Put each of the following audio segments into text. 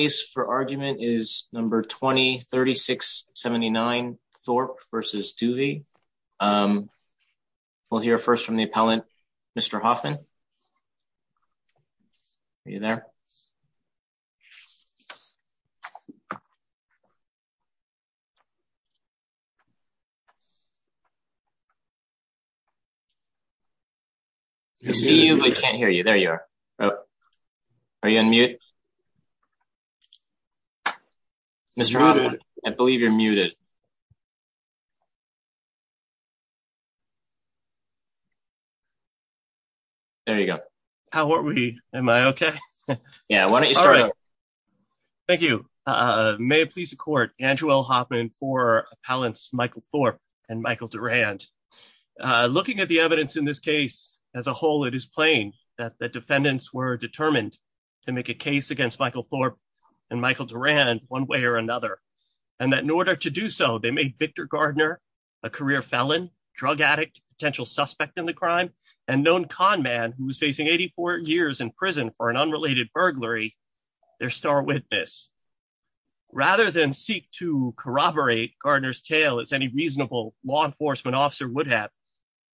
The case for argument is number 20-3679 Thorpe v. Duve. We'll hear first from the appellant, Mr. Hoffman. Are you there? I see you but can't hear you. There you are. Are you on mute. Mr. Hoffman, I believe you're muted. There you go. How are we? Am I okay? Yeah, why don't you start. Thank you. May it please the court, Andrew L. Hoffman for appellants Michael Thorpe and Michael Durand. Looking at the evidence in this case as a whole, it is plain that the defendants were determined to make a case against Michael Thorpe and Michael Durand one way or another. And that in order to do so, they made Victor Gardner, a career felon, drug addict, potential suspect in the crime, and known con man who was facing 84 years in prison for an unrelated burglary, their star witness. Rather than seek to corroborate Gardner's tale as any reasonable law enforcement officer would have,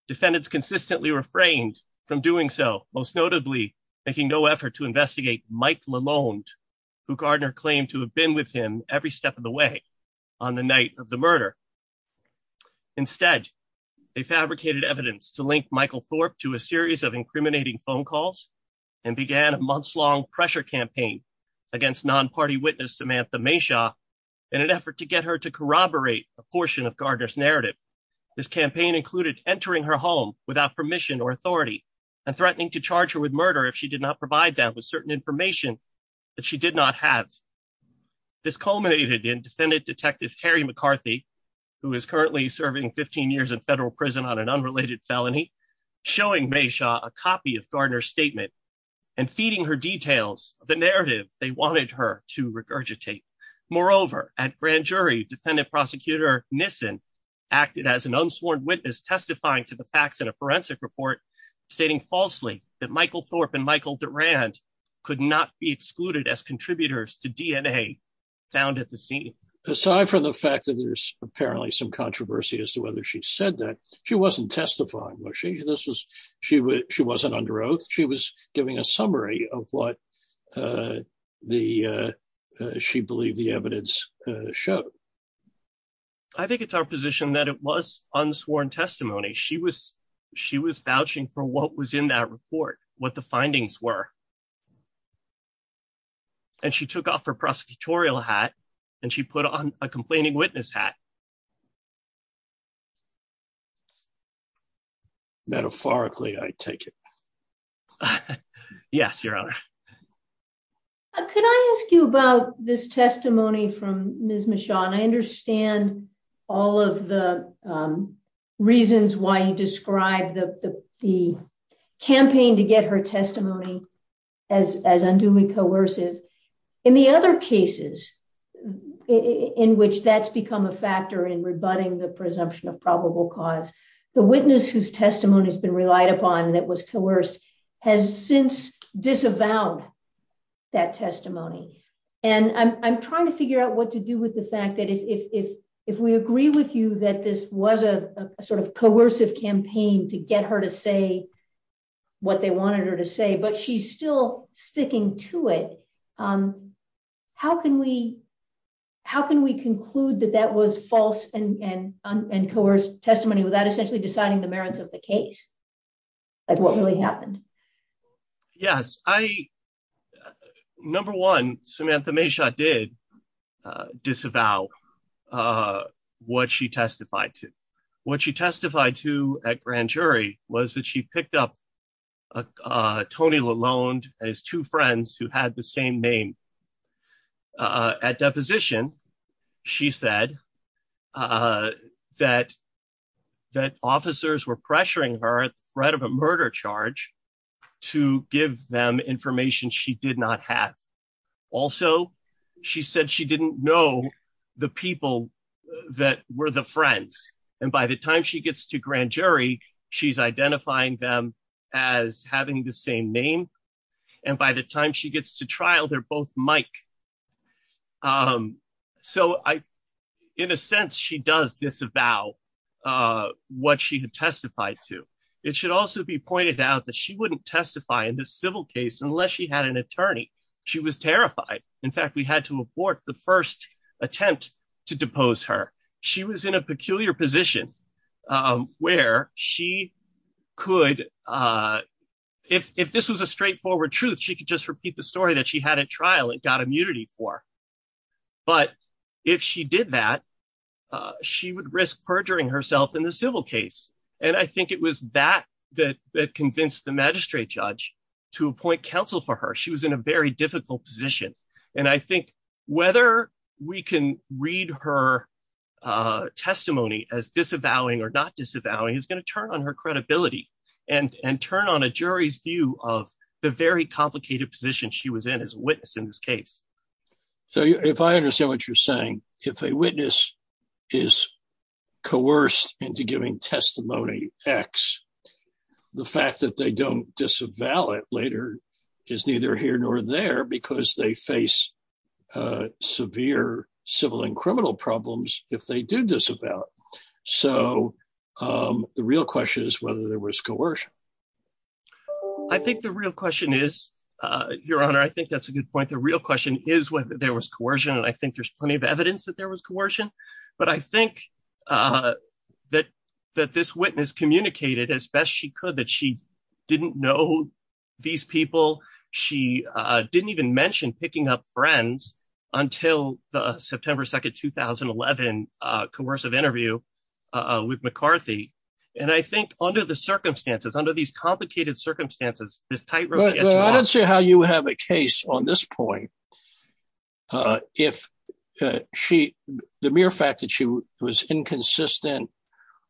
defendants consistently refrained from doing so, most notably, making no effort to investigate Mike Lalonde, who Gardner claimed to have been with him every step of the way on the night of the murder. Instead, they fabricated evidence to link Michael Thorpe to a series of incriminating phone calls and began a months-long pressure campaign against non-party witness Samantha Mayshaw in an effort to get her to corroborate a portion of Gardner's narrative. This campaign included entering her home without permission or authority and threatening to charge her with murder if she did not provide that with certain information that she did not have. This culminated in defendant detective Harry McCarthy, who is currently serving 15 years in federal prison on an unrelated felony, showing Mayshaw a copy of Gardner's statement and feeding her details of the narrative they wanted her to regurgitate. Aside from the fact that there's apparently some controversy as to whether she said that, she wasn't testifying. She wasn't under oath. She was giving a summary of what she believed the evidence showed. I think it's our position that it was unsworn testimony. She was vouching for what was in that report, what the findings were. And she took off her prosecutorial hat and she put on a complaining witness hat. Metaphorically, I take it. Yes, Your Honor. Could I ask you about this testimony from Ms. Mayshaw? And I understand all of the reasons why you described the campaign to get her testimony as unduly coercive. In the other cases in which that's become a factor in rebutting the presumption of probable cause, the witness whose testimony has been relied upon that was coerced has since disavowed that testimony. And I'm trying to figure out what to do with the fact that if we agree with you that this was a sort of coercive campaign to get her to say what they wanted her to say, but she's still sticking to it. How can we conclude that that was false and coerced testimony without essentially deciding the merits of the case? Like what really happened? Yes, I... Number one, Samantha Mayshaw did disavow what she testified to. What she testified to at grand jury was that she picked up Tony Lalonde and his two friends who had the same name. At deposition, she said that officers were pressuring her at the threat of a murder charge to give them information she did not have. Also, she said she didn't know the people that were the friends. And by the time she gets to grand jury, she's identifying them as having the same name. And by the time she gets to trial, they're both Mike. So, in a sense, she does disavow what she had testified to. It should also be pointed out that she wouldn't testify in this civil case unless she had an attorney. She was terrified. In fact, we had to abort the first attempt to depose her. She was in a peculiar position where she could, if this was a straightforward truth, she could just repeat the story that she had at trial and got immunity for. But if she did that, she would risk perjuring herself in the civil case. And I think it was that that convinced the magistrate judge to appoint counsel for her. She was in a very difficult position. And I think whether we can read her testimony as disavowing or not disavowing is going to turn on her credibility and turn on a jury's view of the very complicated position she was in as a witness in this case. So if I understand what you're saying, if a witness is coerced into giving testimony X, the fact that they don't disavow it later is neither here nor there because they face severe civil and criminal problems if they do disavow. So the real question is whether there was coercion. I think the real question is, Your Honor, I think that's a good point. The real question is whether there was coercion. And I think there's plenty of evidence that there was coercion. But I think that this witness communicated as best she could that she didn't know these people. She didn't even mention picking up friends until the September 2, 2011, coercive interview with McCarthy. And I think under the circumstances, under these complicated circumstances, this tightrope... Well, I don't see how you have a case on this point. If the mere fact that she was inconsistent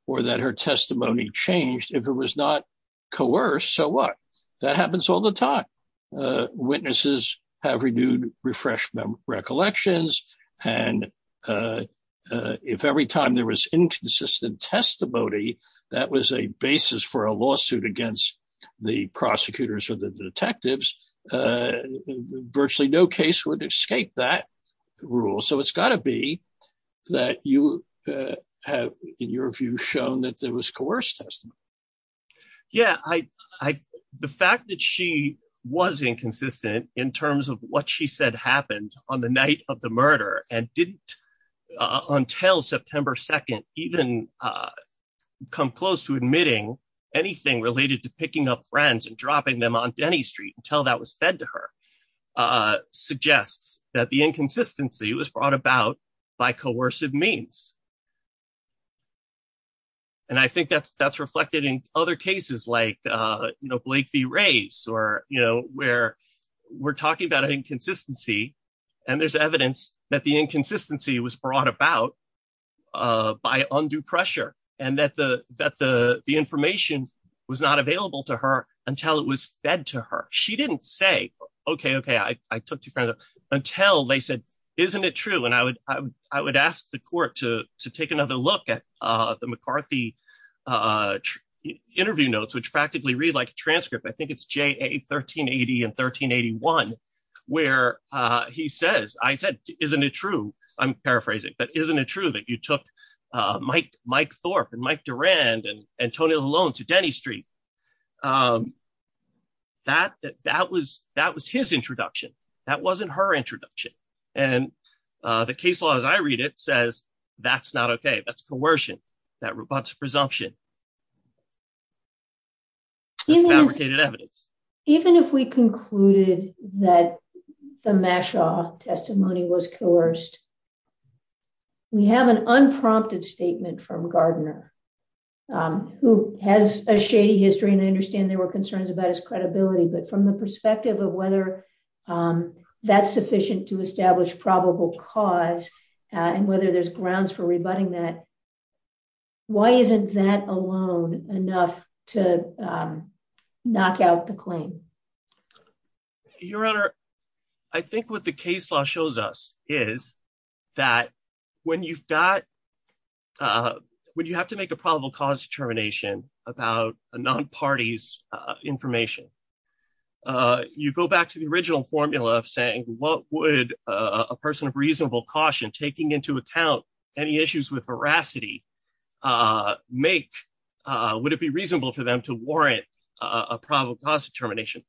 or that her testimony changed, if it was not coerced, so what? That happens all the time. Witnesses have renewed, refreshed recollections. And if every time there was inconsistent testimony, that was a basis for a lawsuit against the prosecutors or the detectives, virtually no case would escape that rule. So it's got to be that you have, in your view, shown that there was coerced testimony. Yeah. The fact that she was inconsistent in terms of what she said happened on the night of the murder and didn't, until September 2, even come close to admitting anything related to picking up friends and dropping them on Denny Street until that was fed to her, suggests that the inconsistency was brought about by coercive means. And I think that's reflected in other cases like Blake v. Rays, where we're talking about an inconsistency and there's evidence that the inconsistency was brought about by undue pressure and that the information was not available to her until it was fed to her. She didn't say, okay, okay, I took two friends, until they said, isn't it true? And I would ask the court to take another look at the McCarthy interview notes, which practically read like a transcript, I think it's JA 1380 and 1381, where he says, I said, isn't it true? I'm paraphrasing, but isn't it true that you took Mike Thorpe and Mike Durand and Tony Lalonde to Denny Street? That was his introduction. That wasn't her introduction. And the case law, as I read it, says, that's not okay. That's coercion. That's presumption. It's fabricated evidence. Even if we concluded that the Mashaw testimony was coerced, we have an unprompted statement from Gardner, who has a shady history and I understand there were concerns about his credibility, but from the perspective of whether that's sufficient to establish probable cause, and whether there's grounds for rebutting that, why isn't that alone enough to knock out the claim? Your Honor, I think what the case law shows us is that when you've got, when you have to make a probable cause determination about a non-party's information, you go back to the original formula of saying, what would a person of reasonable caution taking into account any issues with veracity make, would it be reasonable for them to warrant a probable cause determination?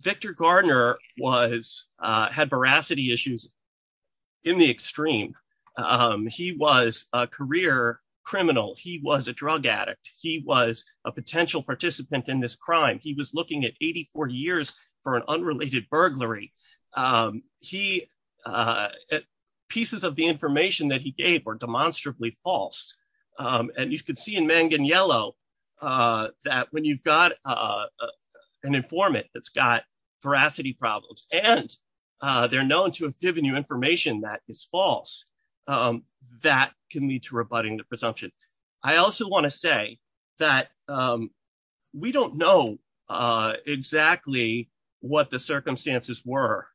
Victor Gardner had veracity issues in the extreme. He was a career criminal. He was a drug addict. He was a potential participant in this crime. He was looking at 80, 40 years for an unrelated burglary. Pieces of the information that he gave were demonstrably false. And you can see in Mangan Yellow that when you've got an informant that's got veracity problems, and they're known to have given you information that is false, that can lead to rebutting the presumption. I also want to say that we don't know exactly what the circumstances were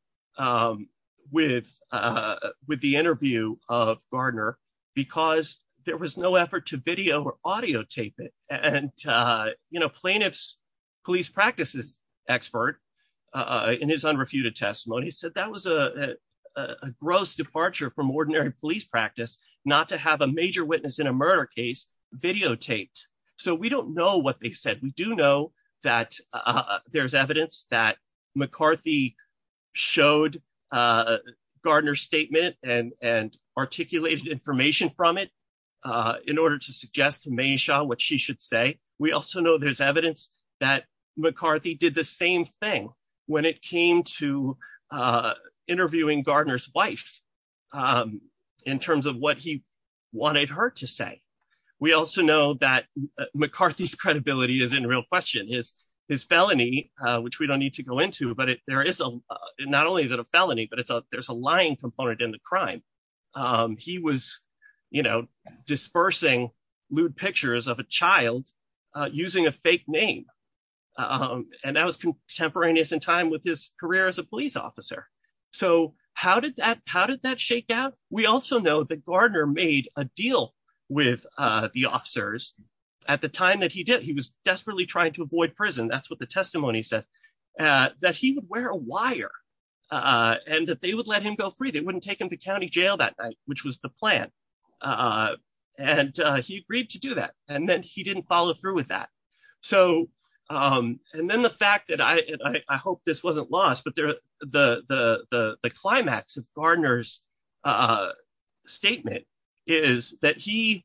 with the interview of Gardner because there was no effort to video or audio tape it. And, you know, plaintiff's police practices expert in his unrefuted testimony said that was a gross departure from ordinary police practice not to have a major witness in a murder case videotaped. So we don't know what they said. We do know that there's evidence that McCarthy showed Gardner's statement and articulated information from it in order to suggest to Meysha what she should say. We also know there's evidence that McCarthy did the same thing when it came to interviewing Gardner's wife in terms of what he wanted her to say. We also know that McCarthy's credibility is in real question. His felony, which we don't need to go into, but not only is it a felony, but there's a lying component in the crime. He was, you know, dispersing lewd pictures of a child using a fake name. And that was contemporaneous in time with his career as a police officer. So how did that shake out? We also know that Gardner made a deal with the officers at the time that he did. He was desperately trying to avoid prison. That's what the testimony says. That he would wear a wire and that they would let him go free. They wouldn't take him to county jail that night, which was the plan. And he agreed to do that. And then he didn't follow through with that. So, and then the fact that I hope this wasn't lost, but the climax of Gardner's statement is that he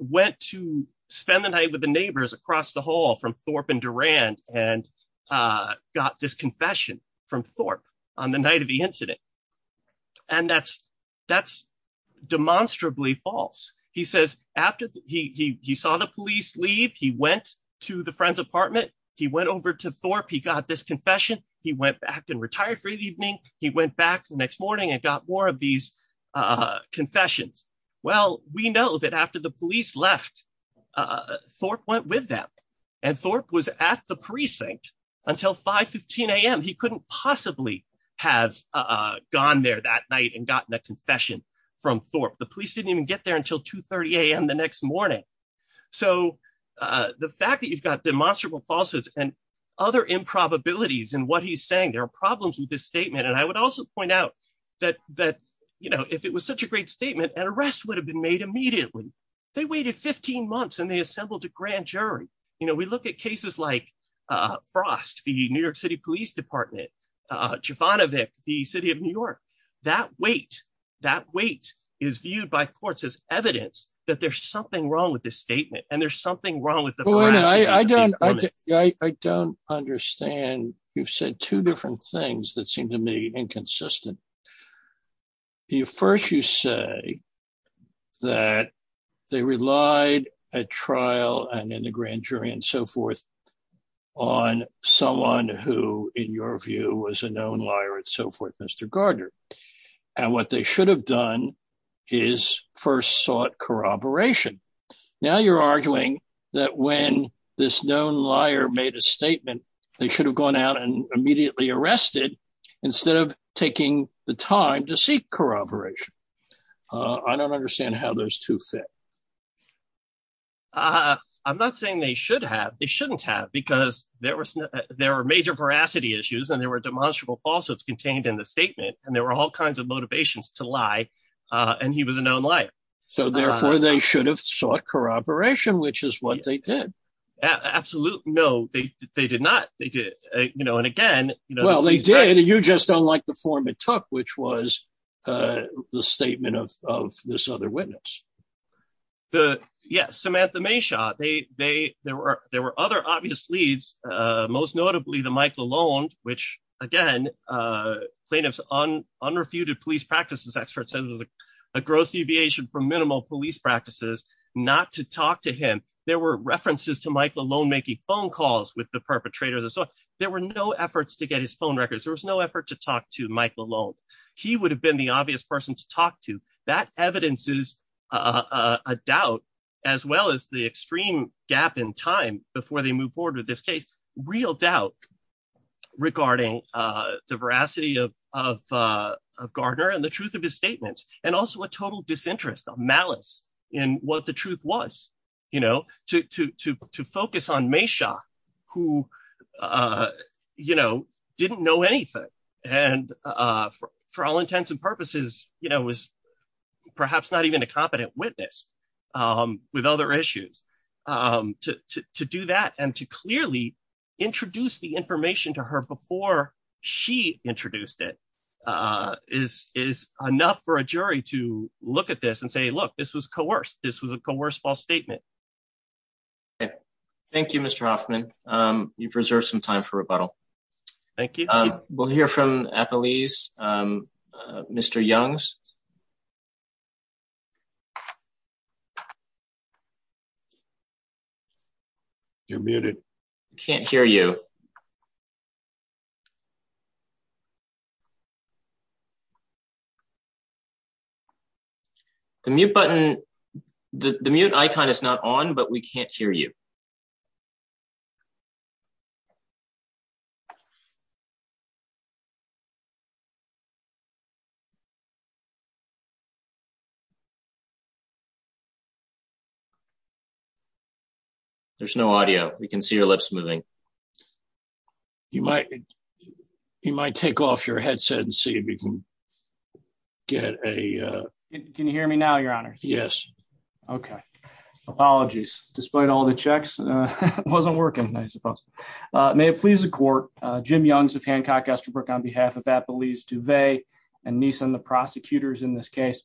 went to spend the night with the neighbors across the hall from Thorpe and Durand and got this confession from Thorpe on the night of the incident. And that's demonstrably false. He says, after he saw the police leave, he went to the friend's apartment, he went over to Thorpe, he got this confession, he went back and retired for the evening, he went back the next morning and got more of these confessions. Well, we know that after the police left, Thorpe went with them. And Thorpe was at the precinct until 5.15am. He couldn't possibly have gone there that night and gotten a confession from Thorpe. The police didn't even get there until 2.30am the next morning. So, the fact that you've got demonstrably falsehoods and other improbabilities in what he's saying, there are problems with this statement. And I would also point out that, you know, if it was such a great statement, an arrest would have been made immediately. They waited 15 months and they assembled a grand jury. You know, we look at cases like Frost, the New York City Police Department, Jovanovic, the city of New York. That wait, that wait is viewed by courts as evidence that there's something wrong with this statement and there's something wrong with the arrest. I don't understand. You've said two different things that seem to me inconsistent. First, you say that they relied at trial and in the grand jury and so forth on someone who, in your view, was a known liar and so forth, Mr. Gardner. And what they should have done is first sought corroboration. Now you're arguing that when this known liar made a statement, they should have gone out and immediately arrested instead of taking the time to seek corroboration. I don't understand how those two fit. I'm not saying they should have. They shouldn't have because there were major veracity issues and there were demonstrable falsehoods contained in the statement and there were all kinds of motivations to lie. And he was a known liar. So therefore, they should have sought corroboration, which is what they did. Absolutely. No, they did not. They did. You know, and again. Well, they did. You just don't like the form it took, which was the statement of this other witness. Yes, Samantha Mayshaw. There were other obvious leads, most notably the Michael Lone, which again, plaintiffs unrefuted police practices experts said it was a gross deviation from minimal police practices not to talk to him. There were references to Michael Lone making phone calls with the perpetrators. There were no efforts to get his phone records, there was no effort to talk to Michael Lone, he would have been the obvious person to talk to that evidences, a doubt, as well as the extreme gap in time before they move forward with this case, real doubt regarding the veracity of Gardner and the truth of his statements, and also a total disinterest of malice in what the truth was, you know, to focus on Mayshaw, who, you know, didn't know anything. And for all intents and purposes, you know was perhaps not even a competent witness with other issues to do that and to clearly introduce the information to her before she introduced it is is enough for a jury to look at this and say look this was coerced this was a coerced false statement. Thank you, Mr Hoffman. You've reserved some time for rebuttal. Thank you. We'll hear from a police. Mr Young's. You're muted. Can't hear you. You're muted. The mute button. The mute icon is not on but we can't hear you. There's no audio, we can see your lips moving. You might. You might take off your headset and see if you can get a. Can you hear me now Your Honor. Yes. Okay. Apologies, despite all the checks wasn't working. May it please the court, Jim Young's of Hancock Estabrook on behalf of that believes to va and Nissan the prosecutors in this case,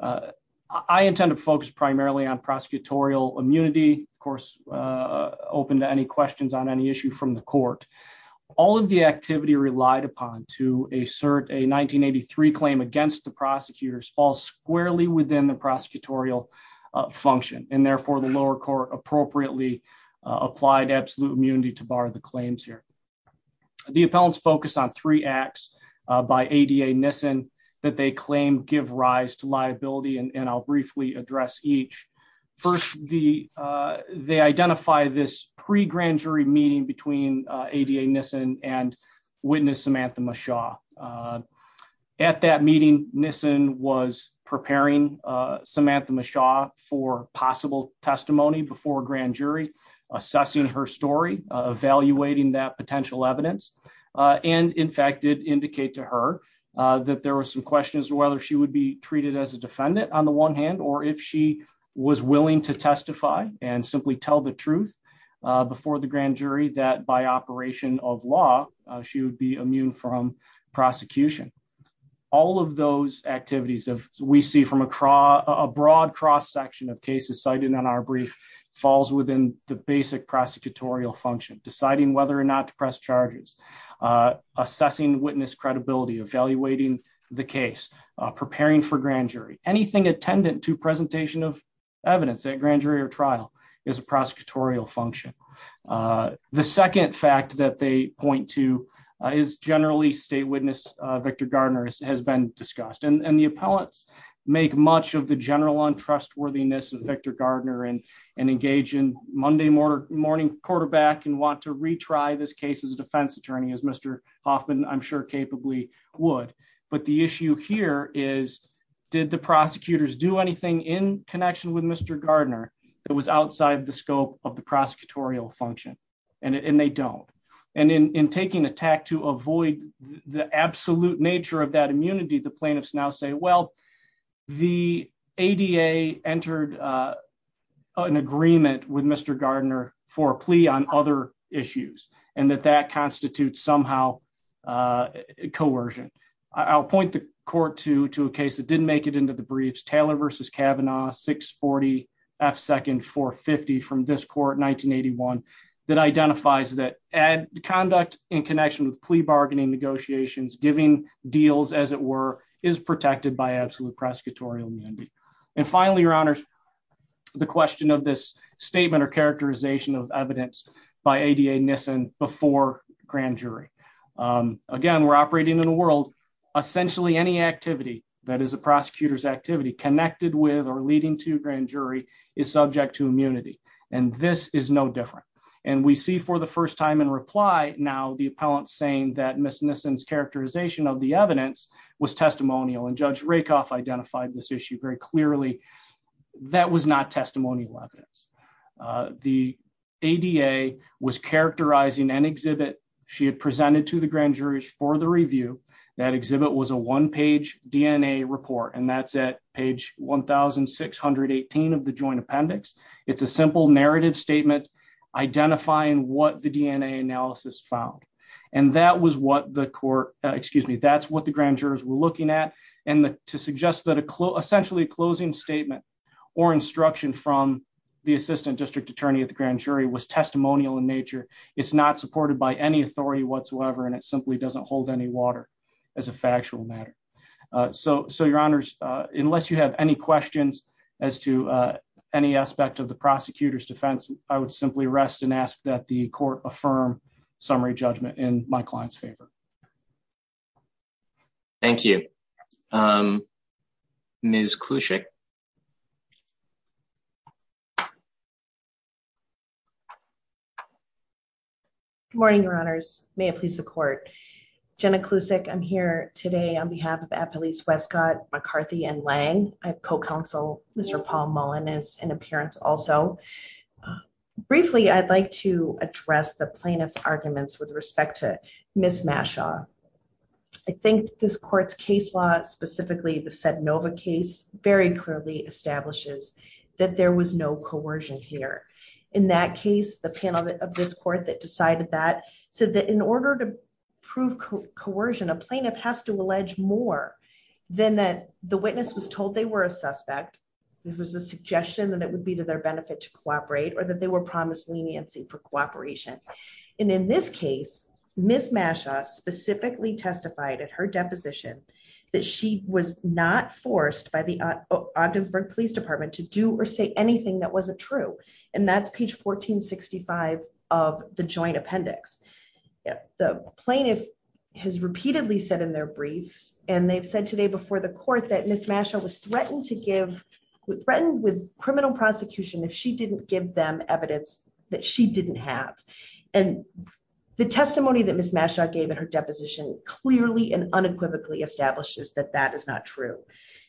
I intend to focus primarily on prosecutorial immunity, of course, open to any questions on any issue from the court. All of the activity relied upon to assert a 1983 claim against the prosecutors all squarely within the prosecutorial function, and therefore the lower court appropriately applied absolute immunity to bar the claims here. The appellants focus on three acts by Ada Nissen that they claim give rise to liability and I'll briefly address each. First, the, they identify this pre grand jury meeting between Ada Nissen and witness Samantha Shaw. At that meeting, Nissen was preparing Samantha Shaw for possible testimony before grand jury assessing her story, evaluating that potential evidence. And in fact did indicate to her that there were some questions whether she would be treated as a defendant, on the one hand, or if she was willing to testify and simply tell the truth before the grand jury that by operation of law, she would be immune from prosecution. All of those activities of we see from across a broad cross section of cases cited on our brief falls within the basic prosecutorial function deciding whether or not to press charges, assessing witness credibility evaluating the case, preparing for grand jury anything attendant to presentation of evidence at grand jury or trial is a prosecutorial function. The second fact that they point to is generally state witness Victor Gardner has been discussed and the appellants, make much of the general on trustworthiness and Victor Gardner and and engage in Monday morning quarterback and want to retry this case and they don't. And in taking attack to avoid the absolute nature of that immunity the plaintiffs now say well, the ADA entered an agreement with Mr Gardner for plea on other issues, and that that constitutes somehow coercion. I'll point the court to to a case that didn't make it into the briefs Taylor versus Kavanaugh 640 F second for 50 from this court 1981 that identifies that add conduct in connection with plea bargaining negotiations giving deals as it were, is protected by absolute prosecutorial immunity. And finally, your honors. The question of this statement or characterization of evidence by Ada Nissen before grand jury. Again, we're operating in a world, essentially any activity that is a prosecutor's activity connected with or leading to grand jury is subject to immunity, and this is no different. And we see for the first time in reply. Now the appellant saying that Miss Nissen's characterization of the evidence was testimonial and Judge Rakoff identified this issue very clearly. That was not testimonial evidence. The ADA was characterizing an exhibit, she had presented to the grand jurors for the review that exhibit was a one page DNA report and that's at page 1618 of the joint appendix, it's a simple narrative statement, identifying what the DNA analysis found. And that was what the court, excuse me, that's what the grand jurors were looking at. And to suggest that a clue essentially closing statement or instruction from the assistant district attorney at the grand jury was testimonial in nature. It's not supported by any authority whatsoever and it simply doesn't hold any water as a factual matter. So, so Your Honors, unless you have any questions as to any aspect of the prosecutor's defense, I would simply rest and ask that the court affirm summary judgment in my client's favor. Thank you. Ms. Klusik. Good morning, Your Honors. May it please the court. Jenna Klusik, I'm here today on behalf of Appalachian Westcott, McCarthy and Lang. I have co-counsel, Mr. Paul Mullen is in appearance also. Briefly, I'd like to address the plaintiff's arguments with respect to Ms. Mashaw. I think this court's case law, specifically the Sednova case, very clearly establishes that there was no coercion here. In that case, the panel of this court that decided that said that in order to prove coercion, a plaintiff has to allege more than that the witness was told they were a suspect. It was a suggestion that it would be to their benefit to cooperate or that they were promised leniency for cooperation. And in this case, Ms. Mashaw specifically testified at her deposition that she was not forced by the Ogdensburg Police Department to do or say anything that wasn't true. And that's page 1465 of the joint appendix. The plaintiff has repeatedly said in their briefs and they've said today before the court that Ms. Mashaw was threatened with criminal prosecution if she didn't give them evidence that she didn't have. And the testimony that Ms. Mashaw gave at her deposition clearly and unequivocally establishes that that is not true.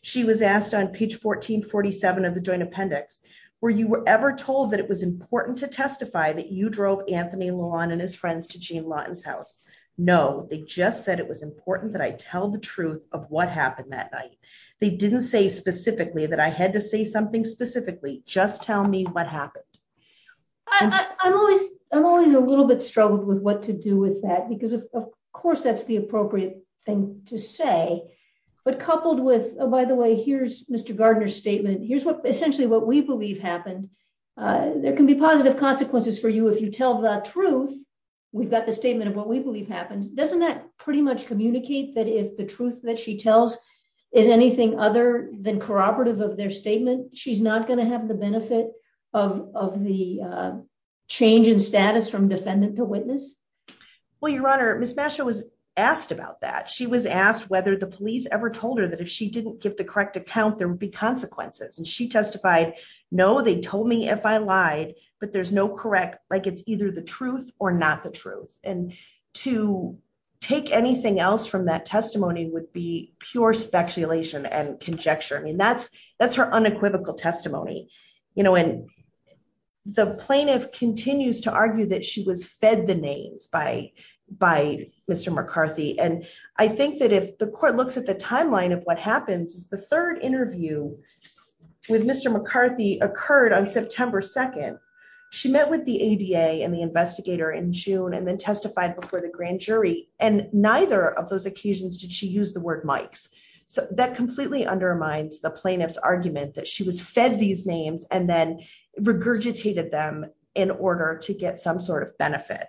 She was asked on page 1447 of the joint appendix, were you ever told that it was important to testify that you drove Anthony Lawn and his friends to Jean Lawton's house? No, they just said it was important that I tell the truth of what happened that night. They didn't say specifically that I had to say something specifically, just tell me what happened. I'm always a little bit struggled with what to do with that, because of course that's the appropriate thing to say. But coupled with, oh, by the way, here's Mr. Gardner's statement, here's what essentially what we believe happened. There can be positive consequences for you if you tell the truth. We've got the statement of what we believe happened. Doesn't that pretty much communicate that if the truth that she tells is anything other than corroborative of their statement, she's not going to have the benefit of the change in status from defendant to witness? Well, Your Honor, Ms. Mashaw was asked about that. She was asked whether the police ever told her that if she didn't give the correct account, there would be consequences. And she testified, no, they told me if I lied, but there's no correct, like it's either the truth or not the truth. And to take anything else from that testimony would be pure speculation and conjecture. I mean, that's her unequivocal testimony. And the plaintiff continues to argue that she was fed the names by Mr. McCarthy. And I think that if the court looks at the timeline of what happens, the third interview with Mr. McCarthy occurred on September 2nd. She met with the ADA and the investigator in June and then testified before the grand jury. And neither of those occasions did she use the word Mike's. So that completely undermines the plaintiff's argument that she was fed these names and then regurgitated them in order to get some sort of benefit.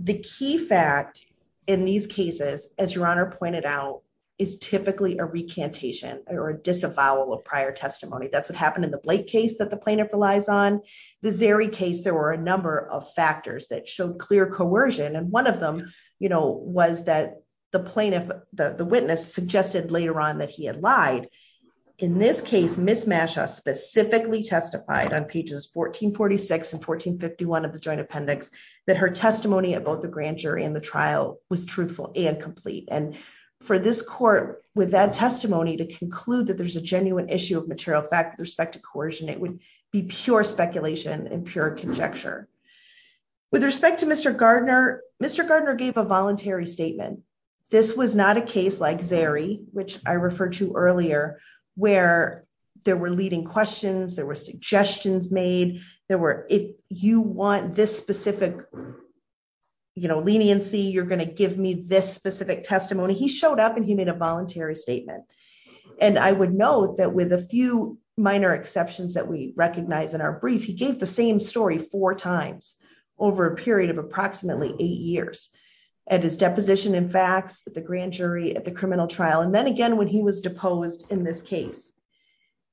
The key fact in these cases, as Your Honor pointed out, is typically a recantation or disavowal of prior testimony. That's what happened in the Blake case that the plaintiff relies on. The Zeri case, there were a number of factors that showed clear coercion. And one of them was that the plaintiff, the witness, suggested later on that he had lied. In this case, Ms. Masha specifically testified on pages 1446 and 1451 of the joint appendix that her testimony about the grand jury and the trial was truthful and complete. And for this court, with that testimony, to conclude that there's a genuine issue of material fact with respect to coercion, it would be pure speculation and pure conjecture. With respect to Mr. Gardner, Mr. Gardner gave a voluntary statement. This was not a case like Zeri, which I referred to earlier, where there were leading questions, there were suggestions made, there were, if you want this specific leniency, you're going to give me this specific testimony. He showed up and he made a voluntary statement. And I would note that with a few minor exceptions that we recognize in our brief, he gave the same story four times over a period of approximately eight years. At his deposition in facts, the grand jury, at the criminal trial, and then again when he was deposed in this case.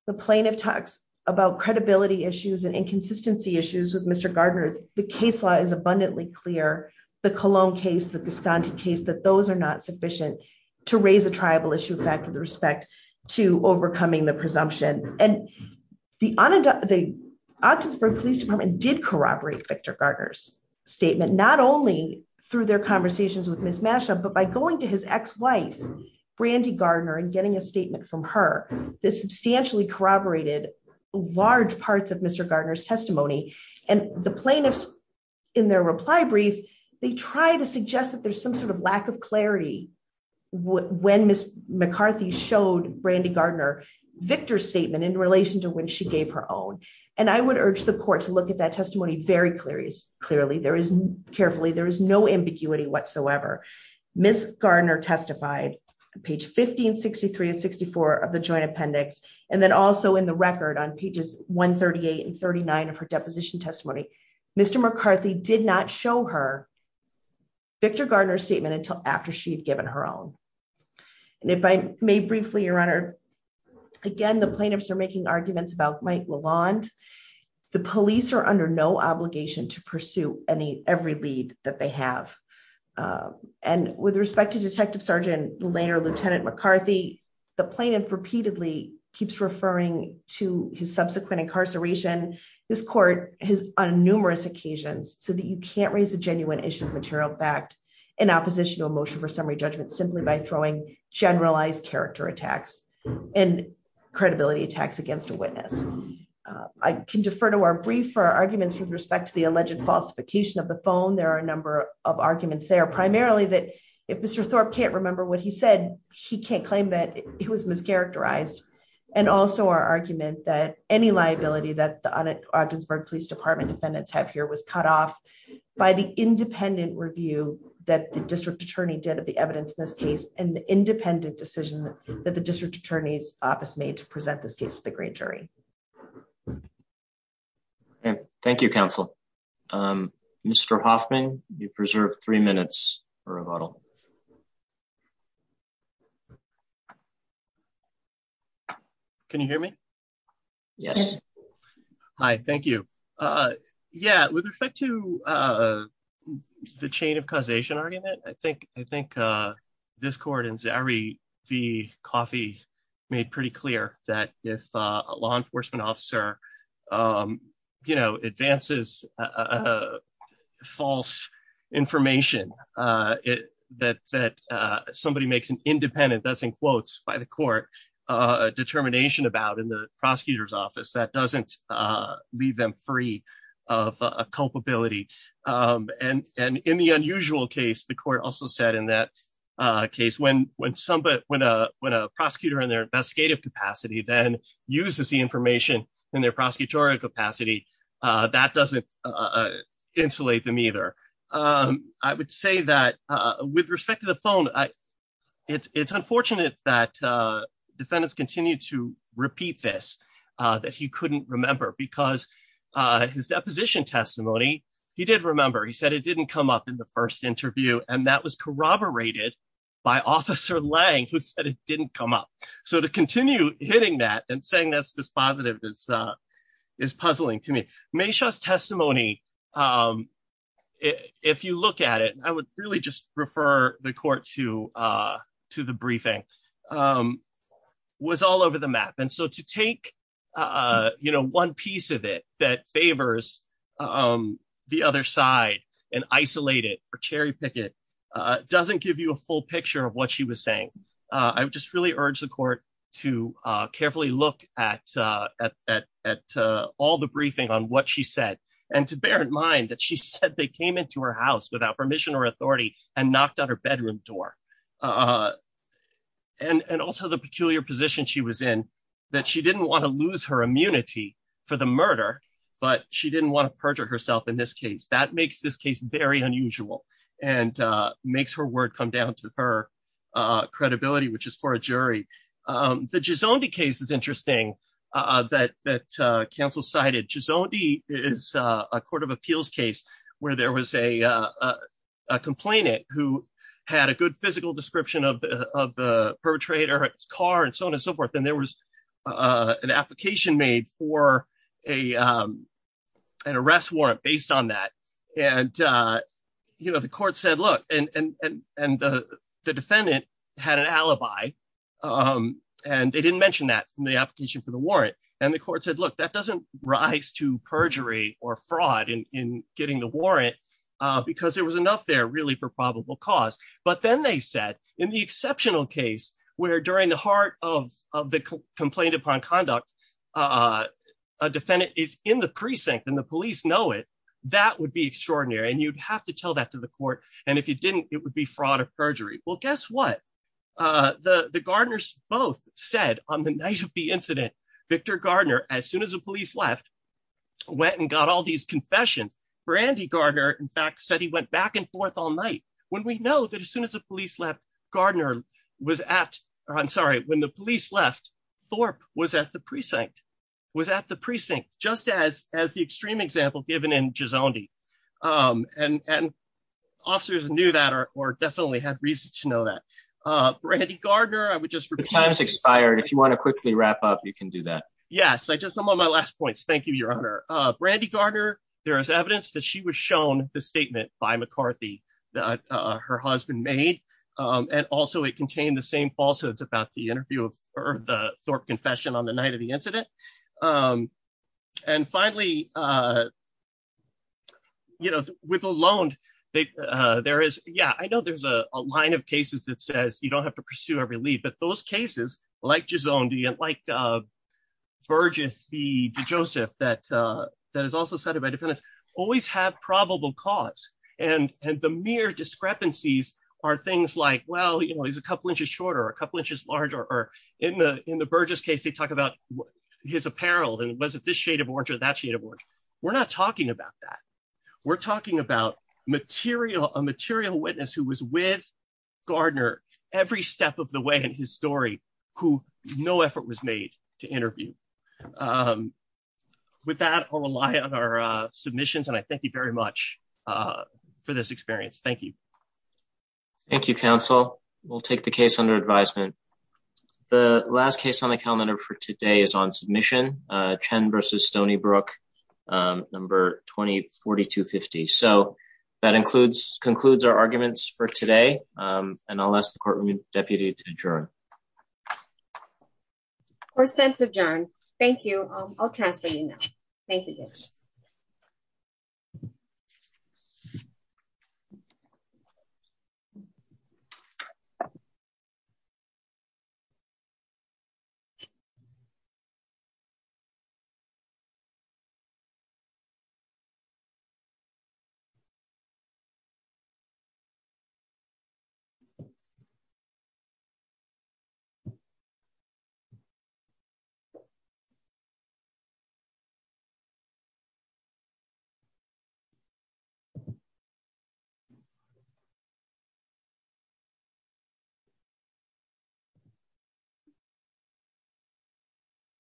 The plaintiff talks about credibility issues and inconsistency issues with Mr. Gardner. The case law is abundantly clear, the Cologne case, the Gisconti case, that those are not sufficient to raise a tribal issue of fact with respect to overcoming the presumption. And the Augsburg Police Department did corroborate Victor Gardner's statement, not only through their conversations with Ms. Masha, but by going to his ex-wife, Brandi Gardner, and getting a statement from her. This substantially corroborated large parts of Mr. Gardner's testimony. And the plaintiffs, in their reply brief, they try to suggest that there's some sort of lack of clarity when Ms. McCarthy showed Brandi Gardner Victor's statement in relation to when she gave her own. And I would urge the court to look at that testimony very clearly. There is carefully, there is no ambiguity whatsoever. Ms. Gardner testified, page 1563 and 64 of the joint appendix, and then also in the record on pages 138 and 39 of her deposition testimony. Mr. McCarthy did not show her Victor Gardner's statement until after she had given her own. And if I may briefly, Your Honor, again, the plaintiffs are making arguments about Mike Lalonde. The police are under no obligation to pursue every lead that they have. And with respect to Detective Sergeant Layner, Lieutenant McCarthy, the plaintiff repeatedly keeps referring to his subsequent incarceration. This court has, on numerous occasions, said that you can't raise a genuine issue of material fact in opposition to a motion for summary judgment simply by throwing generalized character attacks and credibility attacks against a witness. I can defer to our brief for our arguments with respect to the alleged falsification of the phone. There are a number of arguments there, primarily that if Mr. Thorpe can't remember what he said, he can't claim that he was mischaracterized. And also our argument that any liability that the Augsburg Police Department defendants have here was cut off by the independent review that the district attorney did of the evidence in this case, and the independent decision that the district attorney's office made to present this case to the grand jury. Thank you, counsel. Mr. Hoffman, you preserve three minutes for rebuttal. Can you hear me? Yes. Hi, thank you. Yeah, with respect to the chain of causation argument, I think this court in Zari v. Coffey made pretty clear that if a law enforcement officer advances false information that somebody makes an independent, that's in quotes by the court, a determination about in the prosecutor's office that doesn't leave them free of culpability. And in the unusual case, the court also said in that case, when a prosecutor in their investigative capacity then uses the information in their prosecutorial capacity, that doesn't insulate them either. I would say that with respect to the phone, it's unfortunate that defendants continue to repeat this, that he couldn't remember because his deposition testimony, he did remember. He said it didn't come up in the first interview, and that was corroborated by Officer Lang, who said it didn't come up. So to continue hitting that and saying that's dispositive is puzzling to me. Maisha's testimony, if you look at it, I would really just refer the court to the briefing, was all over the map. And so to take one piece of it that favors the other side and isolate it or cherry pick it doesn't give you a full picture of what she was saying. I would just really urge the court to carefully look at all the briefing on what she said and to bear in mind that she said they came into her house without permission or authority and knocked on her bedroom door. And also the peculiar position she was in that she didn't want to lose her immunity for the murder, but she didn't want to perjure herself in this case that makes this case very unusual and makes her word come down to her credibility, which is for a jury. The Gisondi case is interesting that counsel cited. Gisondi is a court of appeals case where there was a complainant who had a good physical description of the perpetrator, his car, and so on and so forth. And there was an application made for an arrest warrant based on that. And, you know, the court said, look, and the defendant had an alibi. And they didn't mention that in the application for the warrant. And the court said, look, that doesn't rise to perjury or fraud in getting the warrant because there was enough there really for probable cause. But then they said in the exceptional case where during the heart of the complaint upon conduct, a defendant is in the precinct and the police know it, that would be extraordinary. And you'd have to tell that to the court. And if you didn't, it would be fraud or perjury. Well, guess what? The Gardner's both said on the night of the incident, Victor Gardner, as soon as the police left, went and got all these confessions. Brandy Gardner, in fact, said he went back and forth all night. When we know that as soon as the police left, Gardner was at, I'm sorry, when the police left, Thorpe was at the precinct. Just as, as the extreme example given in Gizondi. And officers knew that or definitely had reason to know that. Brandy Gardner, I would just repeat. The time has expired. If you want to quickly wrap up, you can do that. Yes, I just I'm on my last points. Thank you, Your Honor. Brandy Gardner, there is evidence that she was shown the statement by McCarthy that her husband made. And also it contained the same falsehoods about the interview or the Thorpe confession on the night of the incident. And finally, you know, with alone. There is. Yeah, I know there's a line of cases that says you don't have to pursue every lead, but those cases like Gizondi and like Burgess v. Joseph that that is also cited by defendants always have probable cause. And, and the mere discrepancies are things like, well, you know, he's a couple inches shorter or a couple inches larger or in the in the Burgess case they talk about his apparel and was it this shade of orange or that shade of orange. We're not talking about that. We're talking about material, a material witness who was with Gardner every step of the way in his story, who no effort was made to interview. With that, I'll rely on our submissions and I thank you very much for this experience. Thank you. Thank you, counsel will take the case under advisement. The last case on the calendar for today is on submission 10 versus Stony Brook. Number 20 4250 so that includes concludes our arguments for today. And I'll ask the court room deputy to adjourn. Or sense of john. Thank you. I'll transfer you now. Thank you. Thank you.